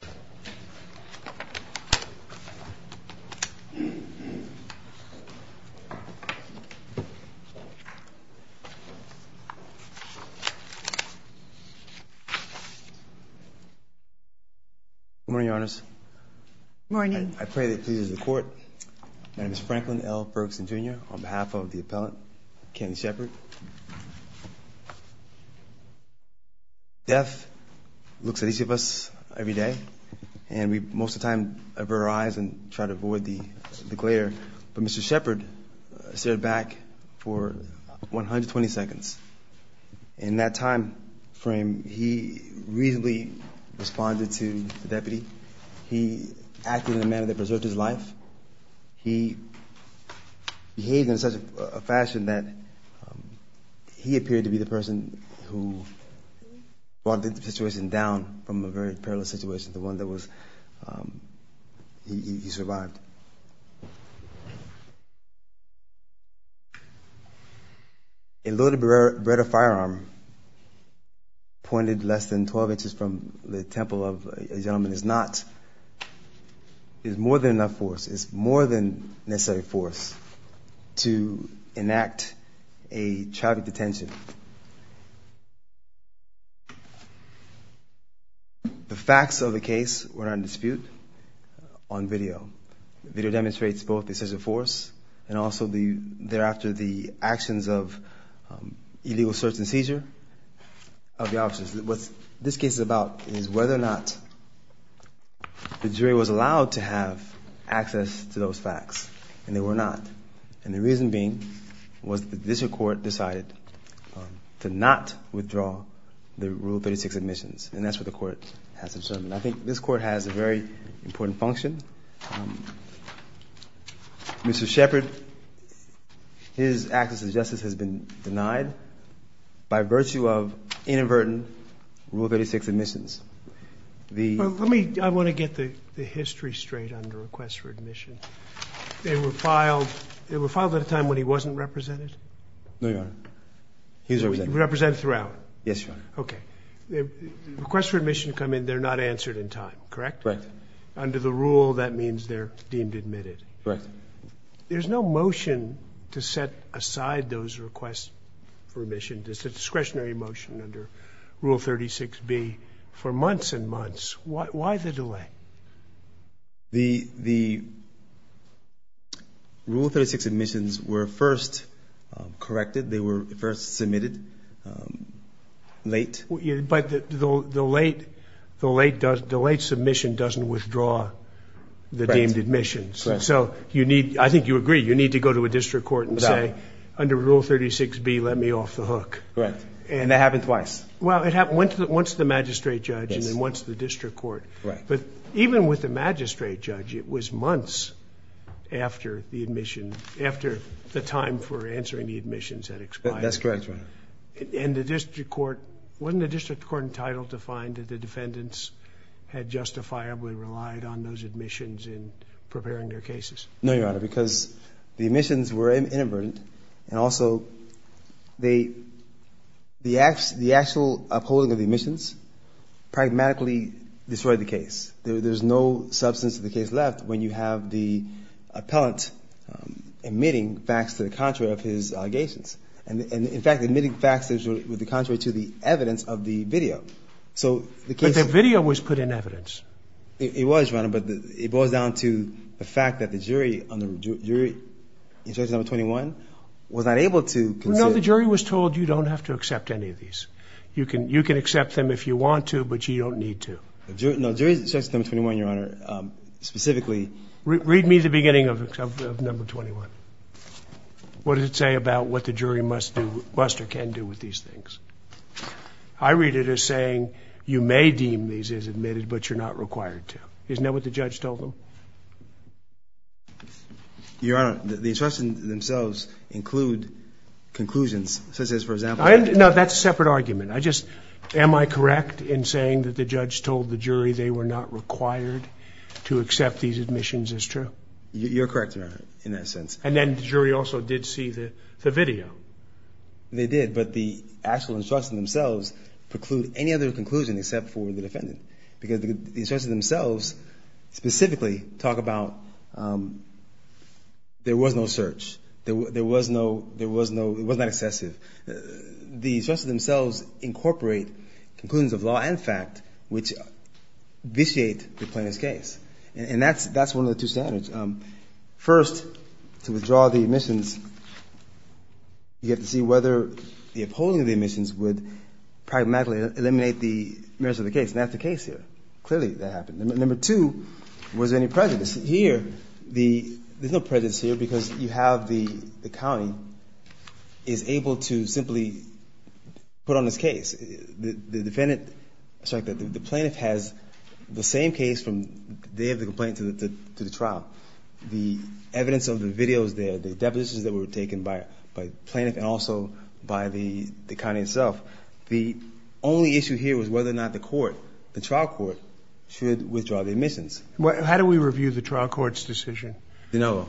Good morning, Your Honors. Good morning. I pray that it pleases the Court. My name is Franklin L. Ferguson, Jr., on behalf of the appellant, Kenton Sheppard. Death looks at each of us every day, and we most of the time avert our eyes and try to avoid the glare, but Mr. Sheppard stared back for 120 seconds. In that time frame, he reasonably responded to the deputy. He acted in a manner that preserved his life. He behaved in such a fashion that he appeared to be the person who brought the situation down from a very perilous situation to one that was, he survived. A loaded Brera firearm pointed less than 12 inches from the temple of a gentleman is not, is more than enough force, is more than necessary force to enact a traffic detention. The facts of the case were not in dispute on video. Video demonstrates both the excessive force and also the, thereafter, the actions of illegal search and seizure of the officers. What this case is about is whether or not the jury was allowed to have access to those facts, and they were not, and the reason being was that the district court decided to not withdraw the Rule 36 admissions, and that's what the court has observed. I think this court has a very important function. Mr. Sheppard, his access to justice has been denied by virtue of inadvertent Rule 36 admissions. The Let me, I want to get the history straight on the request for admission. They were filed, they were filed at a time when he wasn't represented? No, Your Honor. He was represented. Represented throughout? Yes, Your Honor. Okay. Requests for admission come in, they're not answered in time, correct? Correct. And under the rule, that means they're deemed admitted? Correct. There's no motion to set aside those requests for admission. There's a discretionary motion under Rule 36B for months and months. Why, why the delay? The, the Rule 36 admissions were first corrected, they were first submitted late. But the late, the late, the late submission doesn't withdraw the deemed admissions. Correct. So you need, I think you agree, you need to go to a district court and say, under Rule 36B, let me off the hook. Correct. And that happened twice? Well, it happened once to the magistrate judge and then once to the district court. Right. But even with the magistrate judge, it was months after the admission, after the time for answering the admissions had expired. That's correct, Your Honor. And the district court, wasn't the district court entitled to find that the defendants had justifiably relied on those admissions in preparing their cases? No, Your Honor, because the admissions were inadvertent. And also, they, the actual upholding of the admissions pragmatically destroyed the case. There's no substance to the case left when you have the appellant admitting facts to the contrary of his allegations. And in fact, admitting facts to the contrary to the evidence of the video. So the case... But the video was put in evidence. It was, Your Honor, but it boils down to the fact that the jury on the, jury in Judge No. 21 was not able to consider... No, the jury was told you don't have to accept any of these. You can, you can accept them if you want to, but you don't need to. No, jury in Judge No. 21, Your Honor, specifically... Read me the beginning of No. 21. What does it say about what the jury must do, must or can do with these things? I read it as saying, you may deem these as admitted, but you're not required to. Isn't that what the judge told them? Your Honor, the instructions themselves include conclusions, such as, for example... I, no, that's a separate argument. I just, am I correct in saying that the judge told the jury they were not required to accept these admissions as true? You're correct, Your Honor, in that sense. And then the jury also did see the video? They did, but the actual instructions themselves preclude any other conclusion except for the defendant, because the instructions themselves specifically talk about there was no search. There was no, there was no, it was not excessive. The instructions themselves incorporate conclusions of law and fact, which vitiate the plaintiff's case. And that's one of the two standards. First, to withdraw the admissions, you have to see whether the upholding of the admissions would pragmatically eliminate the merits of the case. And that's the case here. Clearly, that happened. Number two, was there any prejudice? Here, the, there's no prejudice here, because you have the county is able to simply put on this case. The defendant, sorry, the plaintiff has the same case from the day of the complaint to the trial. The evidence of the videos there, the depositions that were taken by the plaintiff and also by the county itself, the only issue here was whether or not the court, the trial court, should withdraw the admissions. How do we review the trial court's decision? No.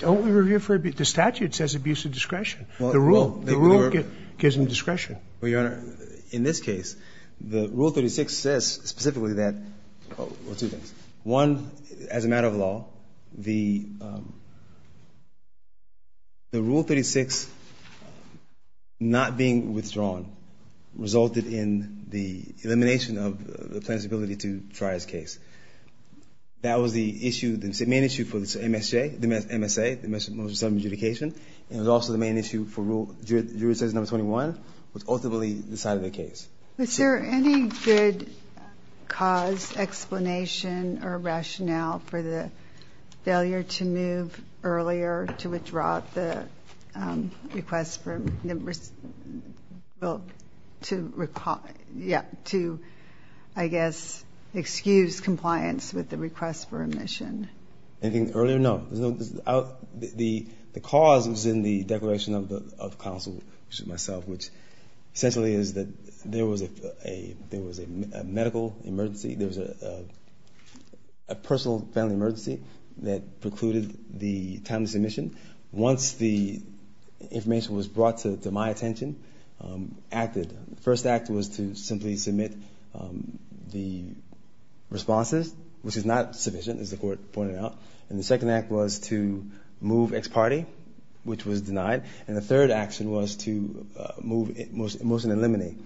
Don't we review for, the statute says abuse of discretion. The rule gives them discretion. Well, Your Honor, in this case, the Rule 36 says specifically that, well, two things. One, as a matter of law, the Rule 36 not being withdrawn resulted in the elimination of the plaintiff's ability to try his case. That was the issue, the main issue for the MSJ, the MSA, the motion of self-adjudication. It was also the main issue for Jurisdiction No. 21, which ultimately decided the case. Was there any good cause, explanation, or rationale for the failure to move earlier to withdraw the request to, I guess, excuse compliance with the request for admission? Anything earlier? No. The cause was in the declaration of counsel, which is myself, which essentially is that there was a medical emergency. There was a personal family emergency that precluded the timely submission. Once the information was brought to my attention, acted. The first act was to simply submit the responses, which is not sufficient, as the court pointed out. And the second act was to move ex parte, which was denied. And the third action was to move motion to eliminate.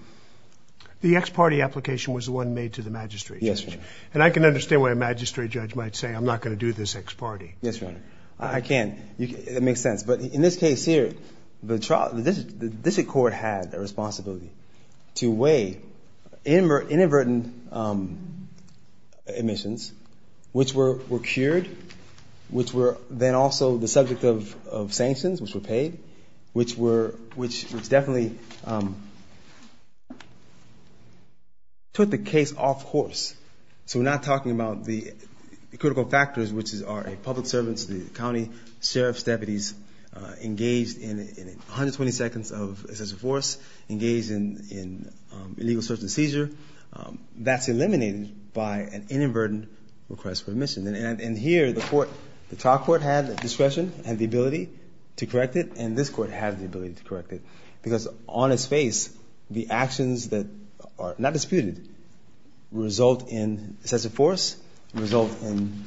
The ex parte application was the one made to the magistrate. Yes, Your Honor. And I can understand why a magistrate judge might say, I'm not going to do this ex parte. Yes, Your Honor. I can. It makes sense. But in this case here, the district court had a responsibility to weigh inadvertent admissions, which were cured, which were then also the subject of sanctions, which were paid, which definitely took the case off course. So we're not talking about the critical factors, which are public servants, the county, sheriff's deputies engaged in 120 seconds of excessive force, engaged in illegal search and seizure. That's eliminated by an inadvertent request for admission. And here, the trial court had the discretion and the ability to correct it, and this court had the ability to correct it. Because on its face, the actions that are not disputed result in excessive force, result in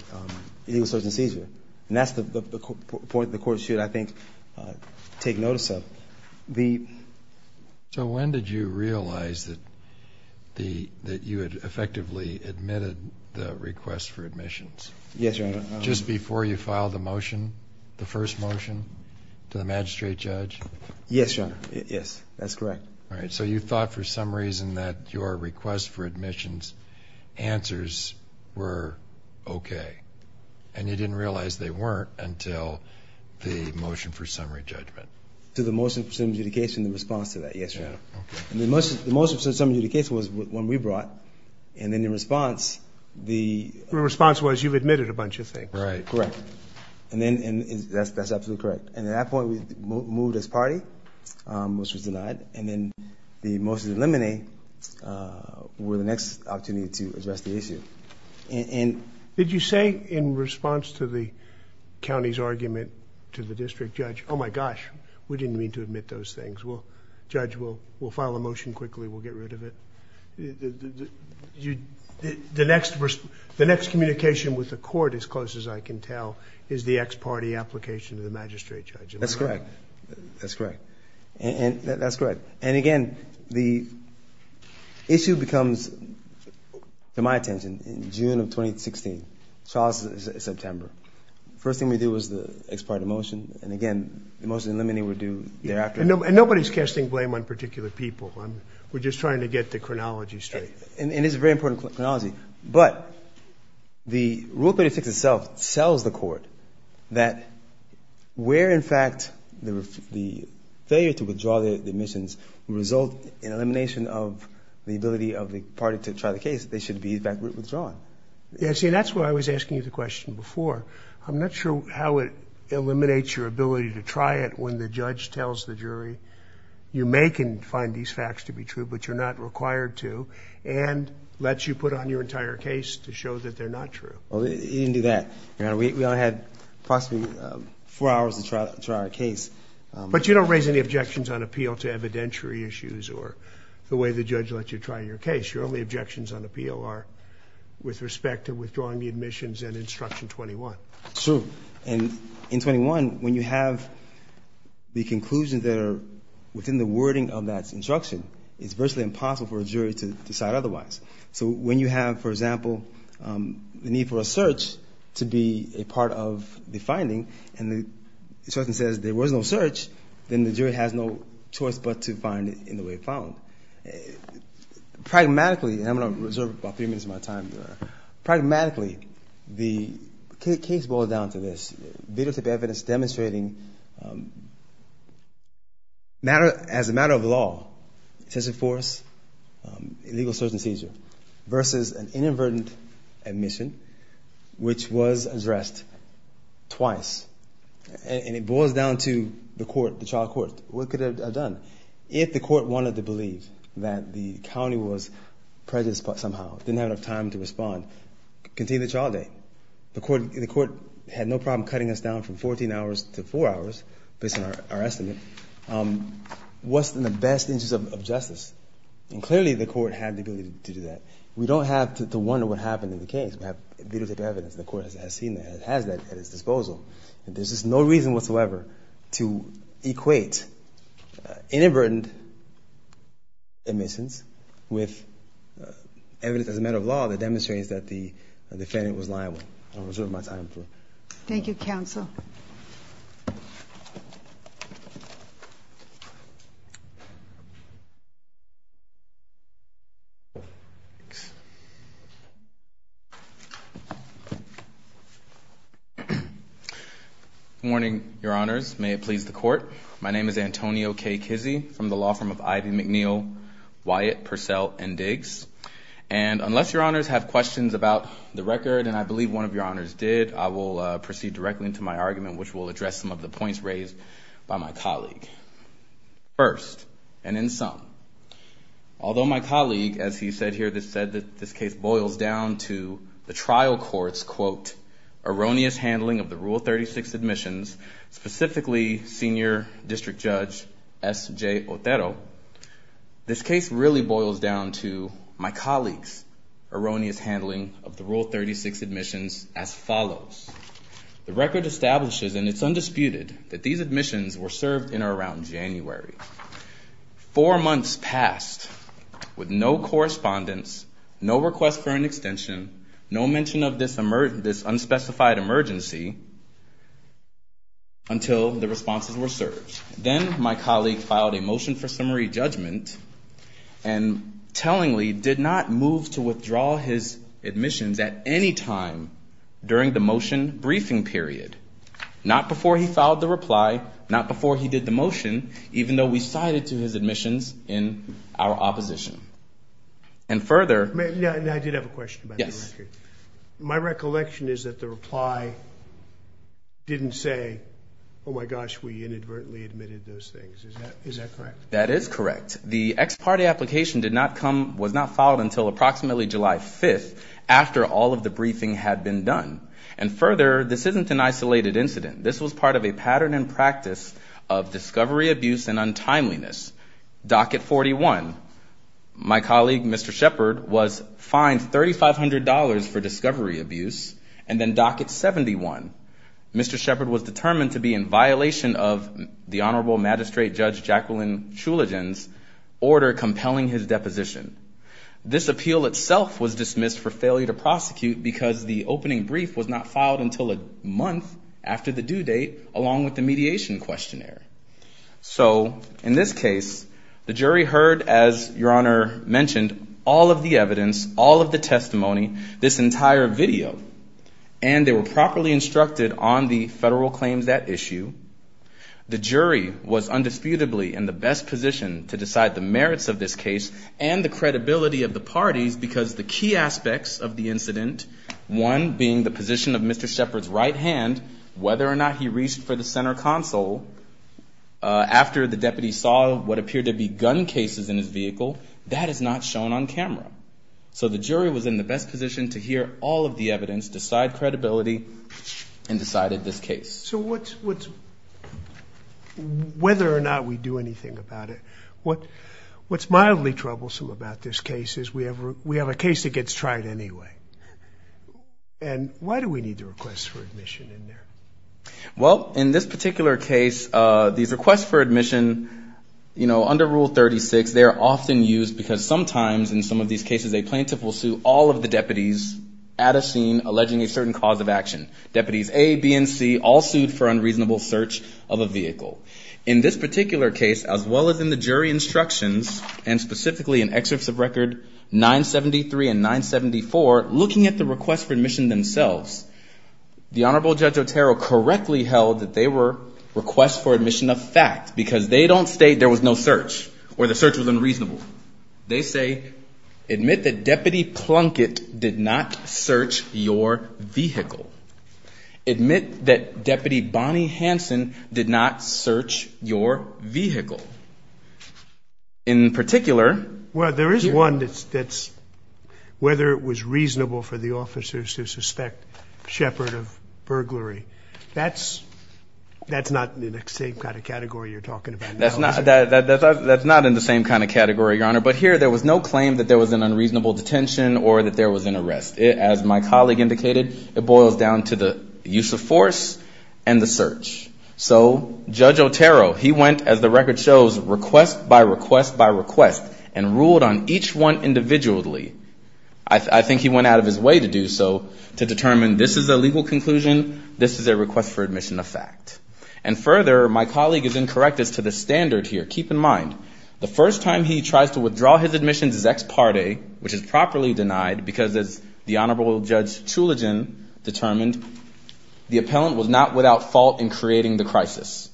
illegal search and seizure. And that's the point the court should, I think, take notice of. So when did you realize that you had effectively admitted the request for admissions? Yes, Your Honor. Just before you filed the motion, the first motion to the magistrate judge? Yes, Your Honor. Yes, that's correct. All right. So you thought for some reason that your request for admissions answers were okay. And you didn't realize they weren't until the motion for summary judgment. To the motion for summary judgment in response to that, yes, Your Honor. And the motion for summary judgment in the case was the one we brought. And then the response, the- The response was you've admitted a bunch of things. Right. Correct. And that's absolutely correct. And at that point, we moved as party, which was denied. And then the motion to eliminate was the next opportunity to address the issue. Did you say in response to the county's argument to the district judge, oh, my gosh, we didn't mean to admit those things. Judge, we'll file a motion quickly. We'll get rid of it. The next communication with the court, as close as I can tell, is the ex-party application to the magistrate judge. That's correct. That's correct. That's correct. And, again, the issue becomes, to my attention, in June of 2016, Charles' September. The first thing we did was the ex-party motion. And, again, the motion to eliminate would do thereafter. And nobody's casting blame on particular people. We're just trying to get the chronology straight. And it's a very important chronology. But the rule of credit itself tells the court that where, in fact, the failure to withdraw the admissions result in elimination of the ability of the party to try the case, they should be, in fact, withdrawn. See, that's why I was asking you the question before. I'm not sure how it eliminates your ability to try it when the judge tells the jury, you may can find these facts to be true, but you're not required to, and lets you put on your entire case to show that they're not true. Well, it didn't do that. We only had approximately four hours to try our case. But you don't raise any objections on appeal to evidentiary issues or the way the judge lets you try your case. Your only objections on appeal are with respect to withdrawing the admissions and Instruction 21. True. And in 21, when you have the conclusions that are within the wording of that instruction, it's virtually impossible for a jury to decide otherwise. So when you have, for example, the need for a search to be a part of the finding, and the judge says there was no search, then the jury has no choice but to find it in the way it found. Pragmatically, and I'm going to reserve about three minutes of my time here, pragmatically, the case boils down to this. demonstrating as a matter of law, excessive force, illegal search and seizure, versus an inadvertent admission, which was addressed twice. And it boils down to the court, the trial court. What could it have done? If the court wanted to believe that the county was prejudiced somehow, didn't have enough time to respond, continue the trial date. The court had no problem cutting us down from 14 hours to four hours, based on our estimate. What's in the best interest of justice? And clearly the court had the ability to do that. We don't have to wonder what happened in the case. We have videotape evidence. The court has seen that. It has that at its disposal. There's just no reason whatsoever to equate inadvertent admissions with evidence as a matter of law that demonstrates that the defendant was liable. I'll reserve my time for it. Thank you, counsel. Good morning, Your Honors. May it please the Court. My name is Antonio K. Kizzee from the law firm of Ivy McNeil, Wyatt, Purcell, and Diggs. And unless Your Honors have questions about the record, and I believe one of Your Honors did, I will proceed directly into my argument, which will address some of the points raised by my colleague. First, and in sum, although my colleague, as he said here, said that this case boils down to the trial court's, quote, erroneous handling of the Rule 36 admissions, specifically Senior District Judge S.J. Otero, this case really boils down to my colleague's erroneous handling of the Rule 36 admissions as follows. The record establishes, and it's undisputed, that these admissions were served in or around January. Four months passed with no correspondence, no request for an extension, no mention of this unspecified emergency until the responses were served. Then my colleague filed a motion for summary judgment and tellingly did not move to withdraw his admissions at any time during the motion briefing period, not before he filed the reply, not before he did the motion, even though we cited to his admissions in our opposition. And further... My recollection is that the reply didn't say, oh my gosh, we inadvertently admitted those things. Is that correct? That is correct. The ex parte application did not come, was not filed until approximately July 5th after all of the briefing had been done. And further, this isn't an isolated incident. This was part of a pattern and practice of discovery abuse and untimeliness. Docket 41. My colleague, Mr. Shepard, was fined $3,500 for discovery abuse, and then docket 71. Mr. Shepard was determined to be in violation of the Honorable Magistrate Judge Jacqueline Chulagen's order compelling his deposition. This appeal itself was dismissed for failure to prosecute because the opening brief was not filed until a month after the due date, along with the mediation questionnaire. So in this case, the jury heard, as Your Honor mentioned, all of the evidence, all of the testimony, this entire video, and they were properly instructed on the federal claims at issue. The jury was undisputably in the best position to decide the merits of this case and the credibility of the parties, because the key aspects of the incident, one being the position of Mr. Shepard's right hand and the other being the fact that he was in a position, whether or not he reached for the center console after the deputy saw what appeared to be gun cases in his vehicle, that is not shown on camera. So the jury was in the best position to hear all of the evidence, decide credibility, and decided this case. So whether or not we do anything about it, what's mildly troublesome about this case is we have a case that gets tried anyway. And why do we need the request for admission in there? Well, in this particular case, these requests for admission, you know, under Rule 36, they are often used because sometimes in some of these cases a plaintiff will sue all of the deputies at a scene alleging a certain cause of action. Deputies A, B, and C all sued for unreasonable search of a vehicle. In this particular case, as well as in the jury instructions, and specifically in excerpts of Record 973 and 974, looking at the requests for admission themselves, the Honorable Judge Otero correctly held that they were requests for admission of fact, because they don't state there was no search or the search was unreasonable. They say, admit that Deputy Plunkett did not search your vehicle. Admit that Deputy Bonnie Hanson did not search your vehicle. In particular... Well, there is one that's whether it was reasonable for the officers to suspect shepherd of burglary. That's not in the same kind of category you're talking about. That's not in the same kind of category, Your Honor. But here there was no claim that there was an unreasonable detention or that there was an arrest. As my colleague indicated, it boils down to the use of force and the search. So Judge Otero, he went, as the record shows, request by request by request, and ruled on each one individually. I think he went out of his way to do so, to determine this is a legal conclusion, this is a request for admission of fact. And further, my colleague is incorrect as to the standard here. Keep in mind, the first time he tries to withdraw his admissions is ex parte, which is properly denied, because as the Honorable Judge Chulagen determined, the appellant was not without fault in creating the crisis.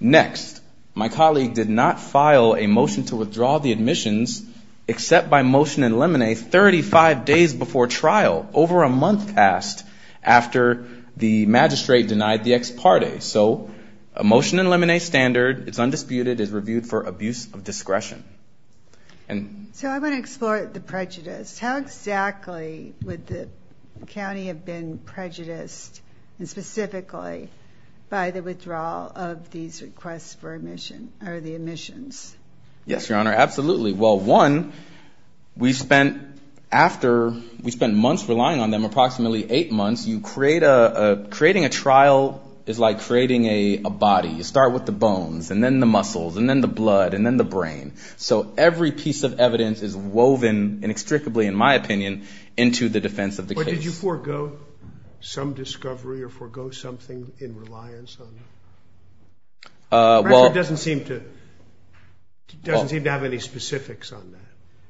Next, my colleague did not file a motion to withdraw the admissions, except by motion and lemonade, 35 days before trial, over a month past, after the magistrate denied the ex parte. So a motion and lemonade standard, it's undisputed, it's reviewed for abuse of discretion. So I want to explore the prejudice. How exactly would the county have been prejudiced, and specifically, in this case, by the withdrawal of these requests for admission, or the admissions? Yes, Your Honor, absolutely. Well, one, we spent, after, we spent months relying on them, approximately eight months, you create a, creating a trial is like creating a body. You start with the bones, and then the muscles, and then the blood, and then the brain. So every piece of evidence is woven inextricably, in my opinion, into the defense of the case. Or did you forego some discovery, or forego something in reliance on it? Well, it doesn't seem to, doesn't seem to have any specifics on that.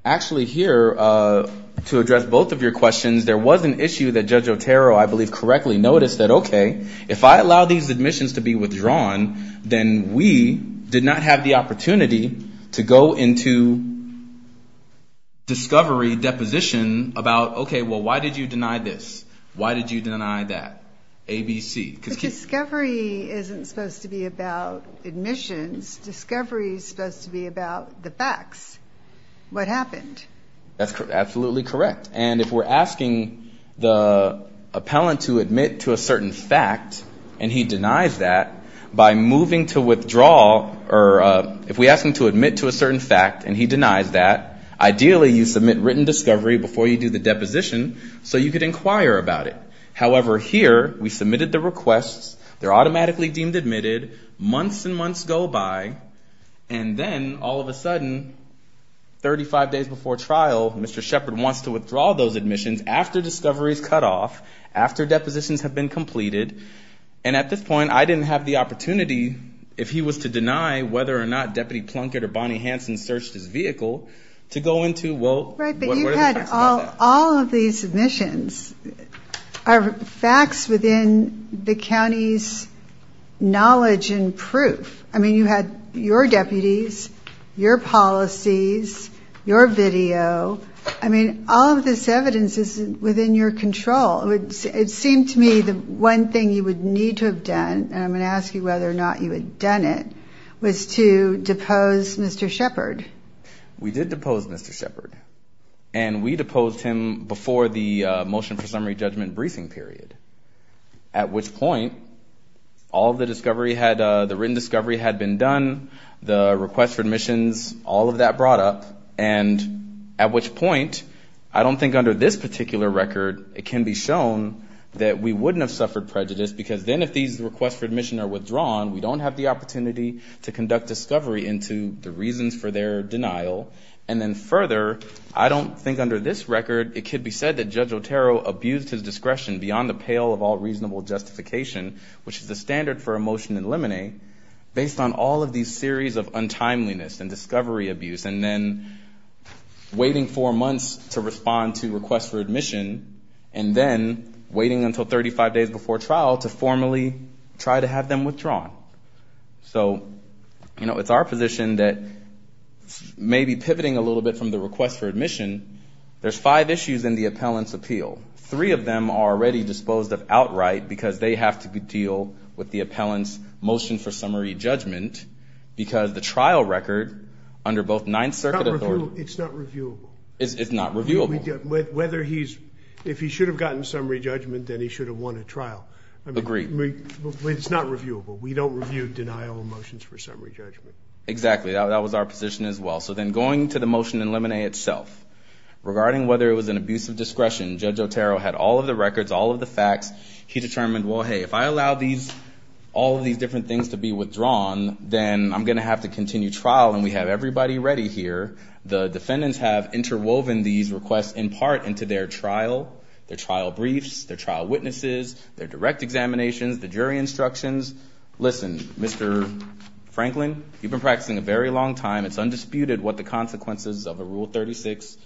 Actually, here, to address both of your questions, there was an issue that Judge Otero, I believe, correctly noticed, that, okay, if I allow these admissions to be withdrawn, then we did not have the opportunity to go into discovery deposition about, okay, well, why did you deny this? Why did you deny that? A, B, C. But discovery isn't supposed to be about admissions. Discovery is supposed to be about the facts. What happened? That's absolutely correct. And if we're asking the appellant to admit to a certain fact, and he denies that, by moving to withdraw, or if we ask him to admit to a certain fact, and he denies that, ideally, you submit written discovery before you do the deposition, so you could inquire about it. However, here, we submitted the requests, they're automatically deemed admitted, months and months go by, and then, all of a sudden, 35 days before trial, Mr. Shepard wants to withdraw those admissions after discovery is cut off, after depositions have been completed, and at this point, I didn't have the opportunity, if he was to deny whether or not Deputy Plunkett or Bonnie Hanson searched his vehicle, to go into, well, what are the facts about that? Right, but you had all of these submissions, are facts within the county's knowledge and proof. I mean, you had your deputies, your policies, your video, I mean, all of this evidence is within your control. It seemed to me the one thing you would need to have done, and I'm going to ask you whether or not you had done it, was to depose Mr. Shepard. We did depose Mr. Shepard, and we deposed him before the motion for summary judgment briefing period, at which point, all of the discovery had, the written discovery had been done, the request for admissions, all of that brought up, and at which point, I don't think under this particular record, it can be shown that we wouldn't have suffered prejudice, because then, if these requests for admission are withdrawn, we don't have the opportunity to conduct discovery into the reasons for their denial, and then further, I don't think under this record, it could be said that Judge Otero abused his discretion beyond the pale of all reasonable justification, which is the standard for a motion in limine, based on all of these series of untimeliness and discovery abuse, and then waiting four months to respond to requests for admission, and then waiting until 35 days before trial to formally try to have them withdrawn. So, you know, it's our position that, maybe pivoting a little bit from the request for admission, there's five issues in the appellant's appeal. Three of them are already disposed of outright, because they have to deal with the appellant's motion for summary judgment, because the trial record, under both Ninth Circuit authority... It's not reviewable. Whether he's... If he should have gotten summary judgment, then he should have won a trial. Agreed. It's not reviewable. We don't review denial motions for summary judgment. Exactly. That was our position as well. So then, going to the motion in limine itself, regarding whether it was an abuse of discretion, Judge Otero had all of the records, all of the facts. He determined, well, hey, if I allow all of these different things to be submitted, I'm going to have to interwoven these requests in part into their trial, their trial briefs, their trial witnesses, their direct examinations, the jury instructions. Listen, Mr. Franklin, you've been practicing a very long time. It's undisputed what the consequences of a Rule 36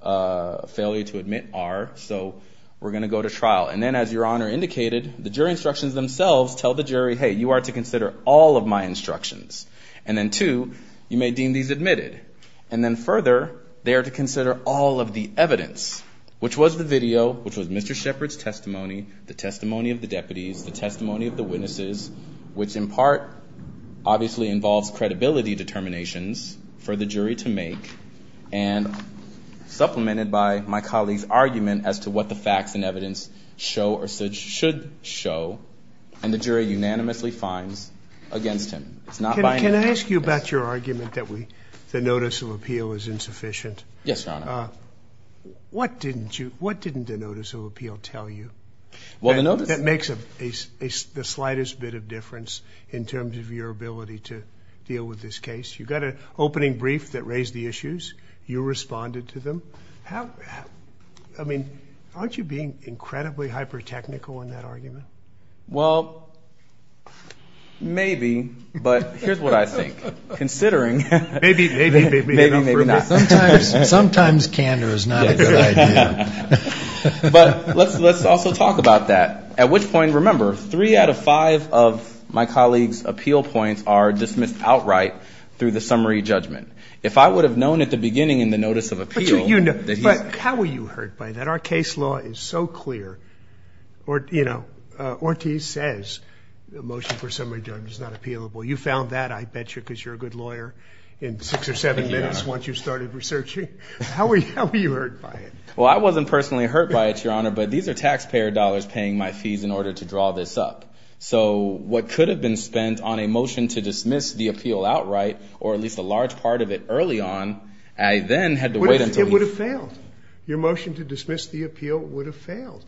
failure to admit are. So, we're going to go to trial. And then, as Your Honor indicated, the jury instructions themselves tell the jury, hey, you are to consider all of my instructions. And then, two, you may deem these admitted. And then, further, they are to consider all of the evidence, which was the video, which was Mr. Shepard's testimony, the testimony of the deputies, the testimony of the witnesses, which, in part, obviously involves credibility determinations for the jury to make, and supplemented by my colleague's argument as to what the facts and evidence show or should show. And the jury unanimously finds against him. It's not by any means... Can I ask you about your argument that the notice of appeal is insufficient? Yes, Your Honor. What didn't the notice of appeal tell you that makes the slightest bit of difference in terms of your ability to deal with this case? You got an opening brief that raised the issues. You responded to them. I mean, aren't you being incredibly hyper-technical in that argument? Well, maybe, but here's what I think. Considering... Maybe, maybe, maybe not. Sometimes candor is not a good idea. But let's also talk about that, at which point, remember, three out of five of my colleague's appeal points are dismissed outright through the jury. But how were you hurt by that? Our case law is so clear. Ortiz says the motion for summary judgment is not appealable. You found that, I bet you, because you're a good lawyer in six or seven minutes once you started researching. How were you hurt by it? Well, I wasn't personally hurt by it, Your Honor, but these are taxpayer dollars paying my fees in order to draw this up. So what could have been spent on a motion to dismiss the appeal outright, or at least a large part of it early on, I then had to wait until... It would have failed. Your motion to dismiss the appeal would have failed.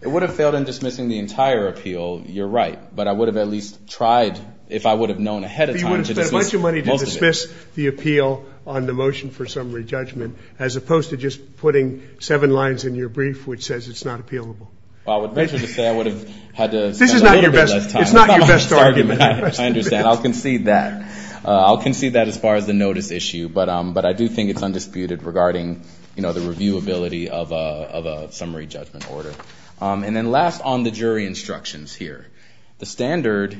It would have failed in dismissing the entire appeal, you're right, but I would have at least tried, if I would have known ahead of time, to dismiss most of it. But you would have spent a bunch of money to dismiss the appeal on the motion for summary judgment, as opposed to just putting seven lines in your brief which says it's not appealable. Well, I would venture to say I would have had to spend a little bit less time... This is not your best argument. I understand. I'll concede that. I'll concede that as far as the notice issue, but I do think it's undisputed regarding the reviewability of a summary judgment order. And then last, on the jury instructions here. The standard,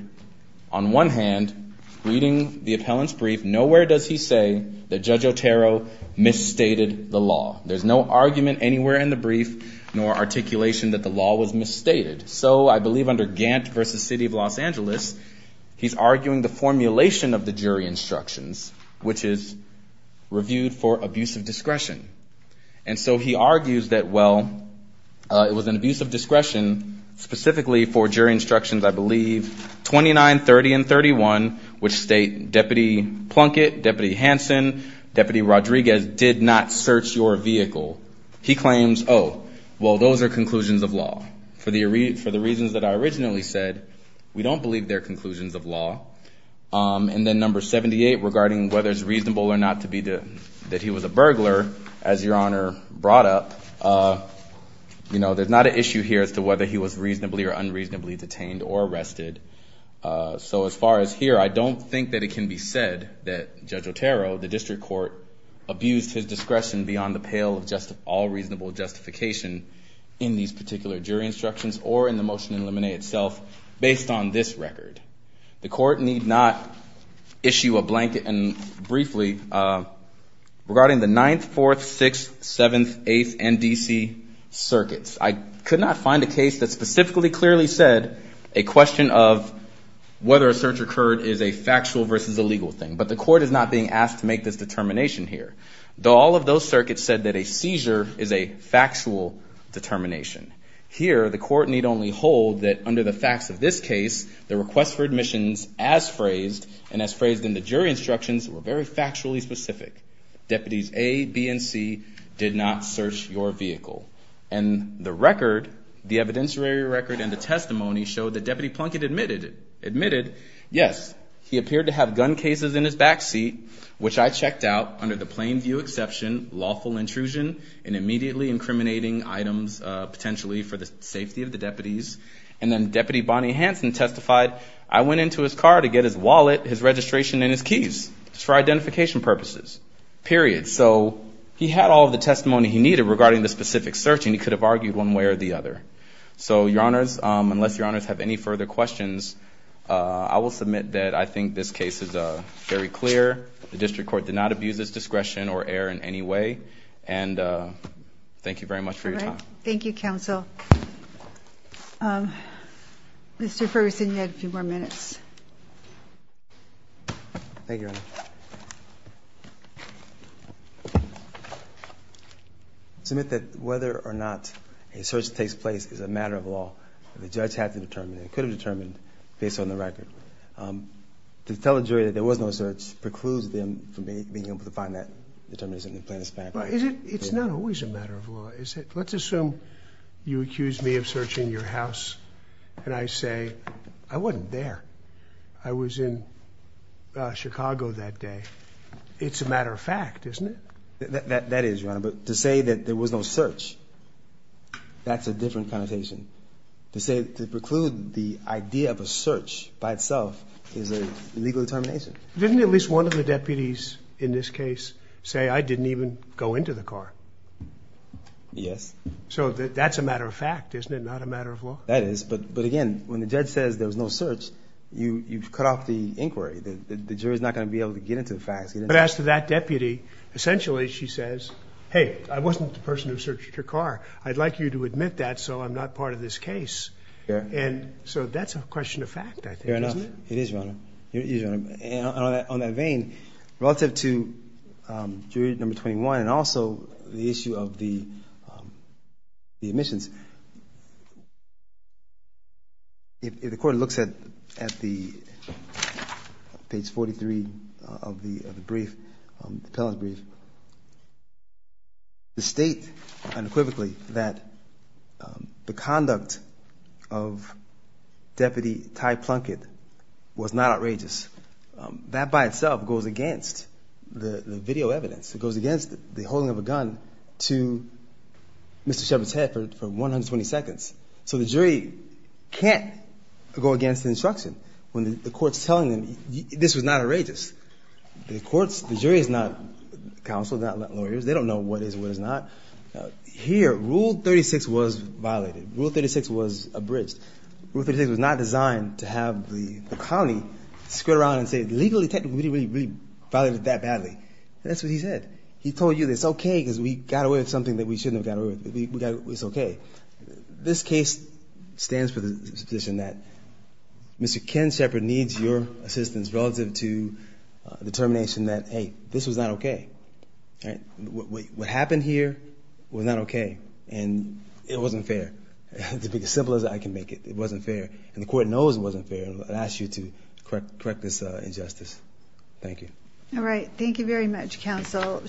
on one hand, reading the appellant's brief, nowhere does he say that Judge Otero misstated the law. There's no argument anywhere in the brief, nor articulation that the law was misstated. So I believe under Gant v. City of Los Angeles, he's arguing the formulation of the jury instructions, which is reviewed for abusive discretion. And so he argues that, well, it was an abusive discretion specifically for jury instructions, I believe, 29, 30, and 31, which state Deputy Plunkett, Deputy Hanson, Deputy Rodriguez did not search your vehicle. He claims, oh, well, those are conclusions of law. For the reasons that I originally said, we don't believe they're conclusions of law. And then number 78, regarding whether it's reasonable or not that he was a burglar, as Your Honor brought up. There's not an issue here as to whether he was reasonably or unreasonably detained or arrested. So as far as here, I don't think that it can be said that Judge Otero, the district court, abused his discretion beyond the pale of justice. All reasonable justification in these particular jury instructions, or in the motion in limine itself, based on this record. The court need not issue a blanket, and briefly, regarding the 9th, 4th, 6th, 7th, 8th, and D.C. circuits. I could not find a case that specifically clearly said a question of whether a search occurred is a factual versus a legal thing. But the court is not being asked to make this determination here, though all of those circuits said that a seizure is a factual determination. Here, the court need only hold that under the facts of this case, the request for admissions as phrased, and as phrased in the jury instructions, were very factually specific. Deputies A, B, and C did not search your vehicle. And the record, the evidentiary record and the testimony showed that Deputy Plunkett admitted, yes, he appeared to have gun cases in his vehicle. He was in his back seat, which I checked out, under the plain view exception, lawful intrusion, and immediately incriminating items, potentially, for the safety of the deputies. And then Deputy Bonnie Hanson testified, I went into his car to get his wallet, his registration, and his keys, just for identification purposes, period. So, he had all of the testimony he needed regarding the specific search, and he could have argued one way or the other. So, your honors, unless your honors have any further questions, I will submit that I think this case is very clear. The district court did not abuse its discretion or error in any way, and thank you very much for your time. Thank you, counsel. Mr. Ferguson, you had a few more minutes. Thank you, Your Honor. I submit that whether or not a search takes place is a matter of law, and the judge had to determine, and could have determined, based on the record. To tell a jury that there was no search precludes them from being able to find that determination in the plaintiff's fact. It's not always a matter of law, is it? Let's assume you accuse me of searching your house, and I say, I wasn't there, I was in Chicago that day. It's a matter of fact, isn't it? That is, Your Honor, but to say that there was no search, that's a different connotation. To say, to preclude the idea of a search by itself is an illegal determination. Didn't at least one of the deputies in this case say, I didn't even go into the car? Yes. So that's a matter of fact, isn't it, not a matter of law? That is, but again, when the judge says there was no search, you've cut off the inquiry. The jury's not going to be able to get into the facts. But as to that deputy, essentially she says, hey, I wasn't the person who searched your car. I'd like you to admit that so I'm not part of this case. And so that's a question of fact, I think, isn't it? Fair enough. It is, Your Honor. And on that vein, relative to jury number 21 and also the issue of the admissions, if the court looks at the page 43 of the brief, the appellant's brief, the state unequivocally that the conduct of Deputy Ty Plunkett was not outrageous. That by itself goes against the video evidence. It goes against the holding of a gun to Mr. Shepard's head for 120 seconds. So the jury can't go against the instruction when the court's telling them this was not outrageous. The jury is not counsel, not lawyers. They don't know what is and what is not. Here, Rule 36 was violated. Rule 36 was abridged. Rule 36 was not designed to have the colony squirt around and say, legally, technically, we didn't really violate it that badly. That's what he said. He told you it's okay because we got away with something that we shouldn't have got away with. It's okay. This case stands for the position that Mr. Ken Shepard needs your assistance relative to determination that, hey, this was not okay. What happened here was not okay, and it wasn't fair. To be as simple as I can make it, it wasn't fair, and the court knows it wasn't fair. I ask you to correct this injustice. Thank you. All right. Thank you very much, counsel.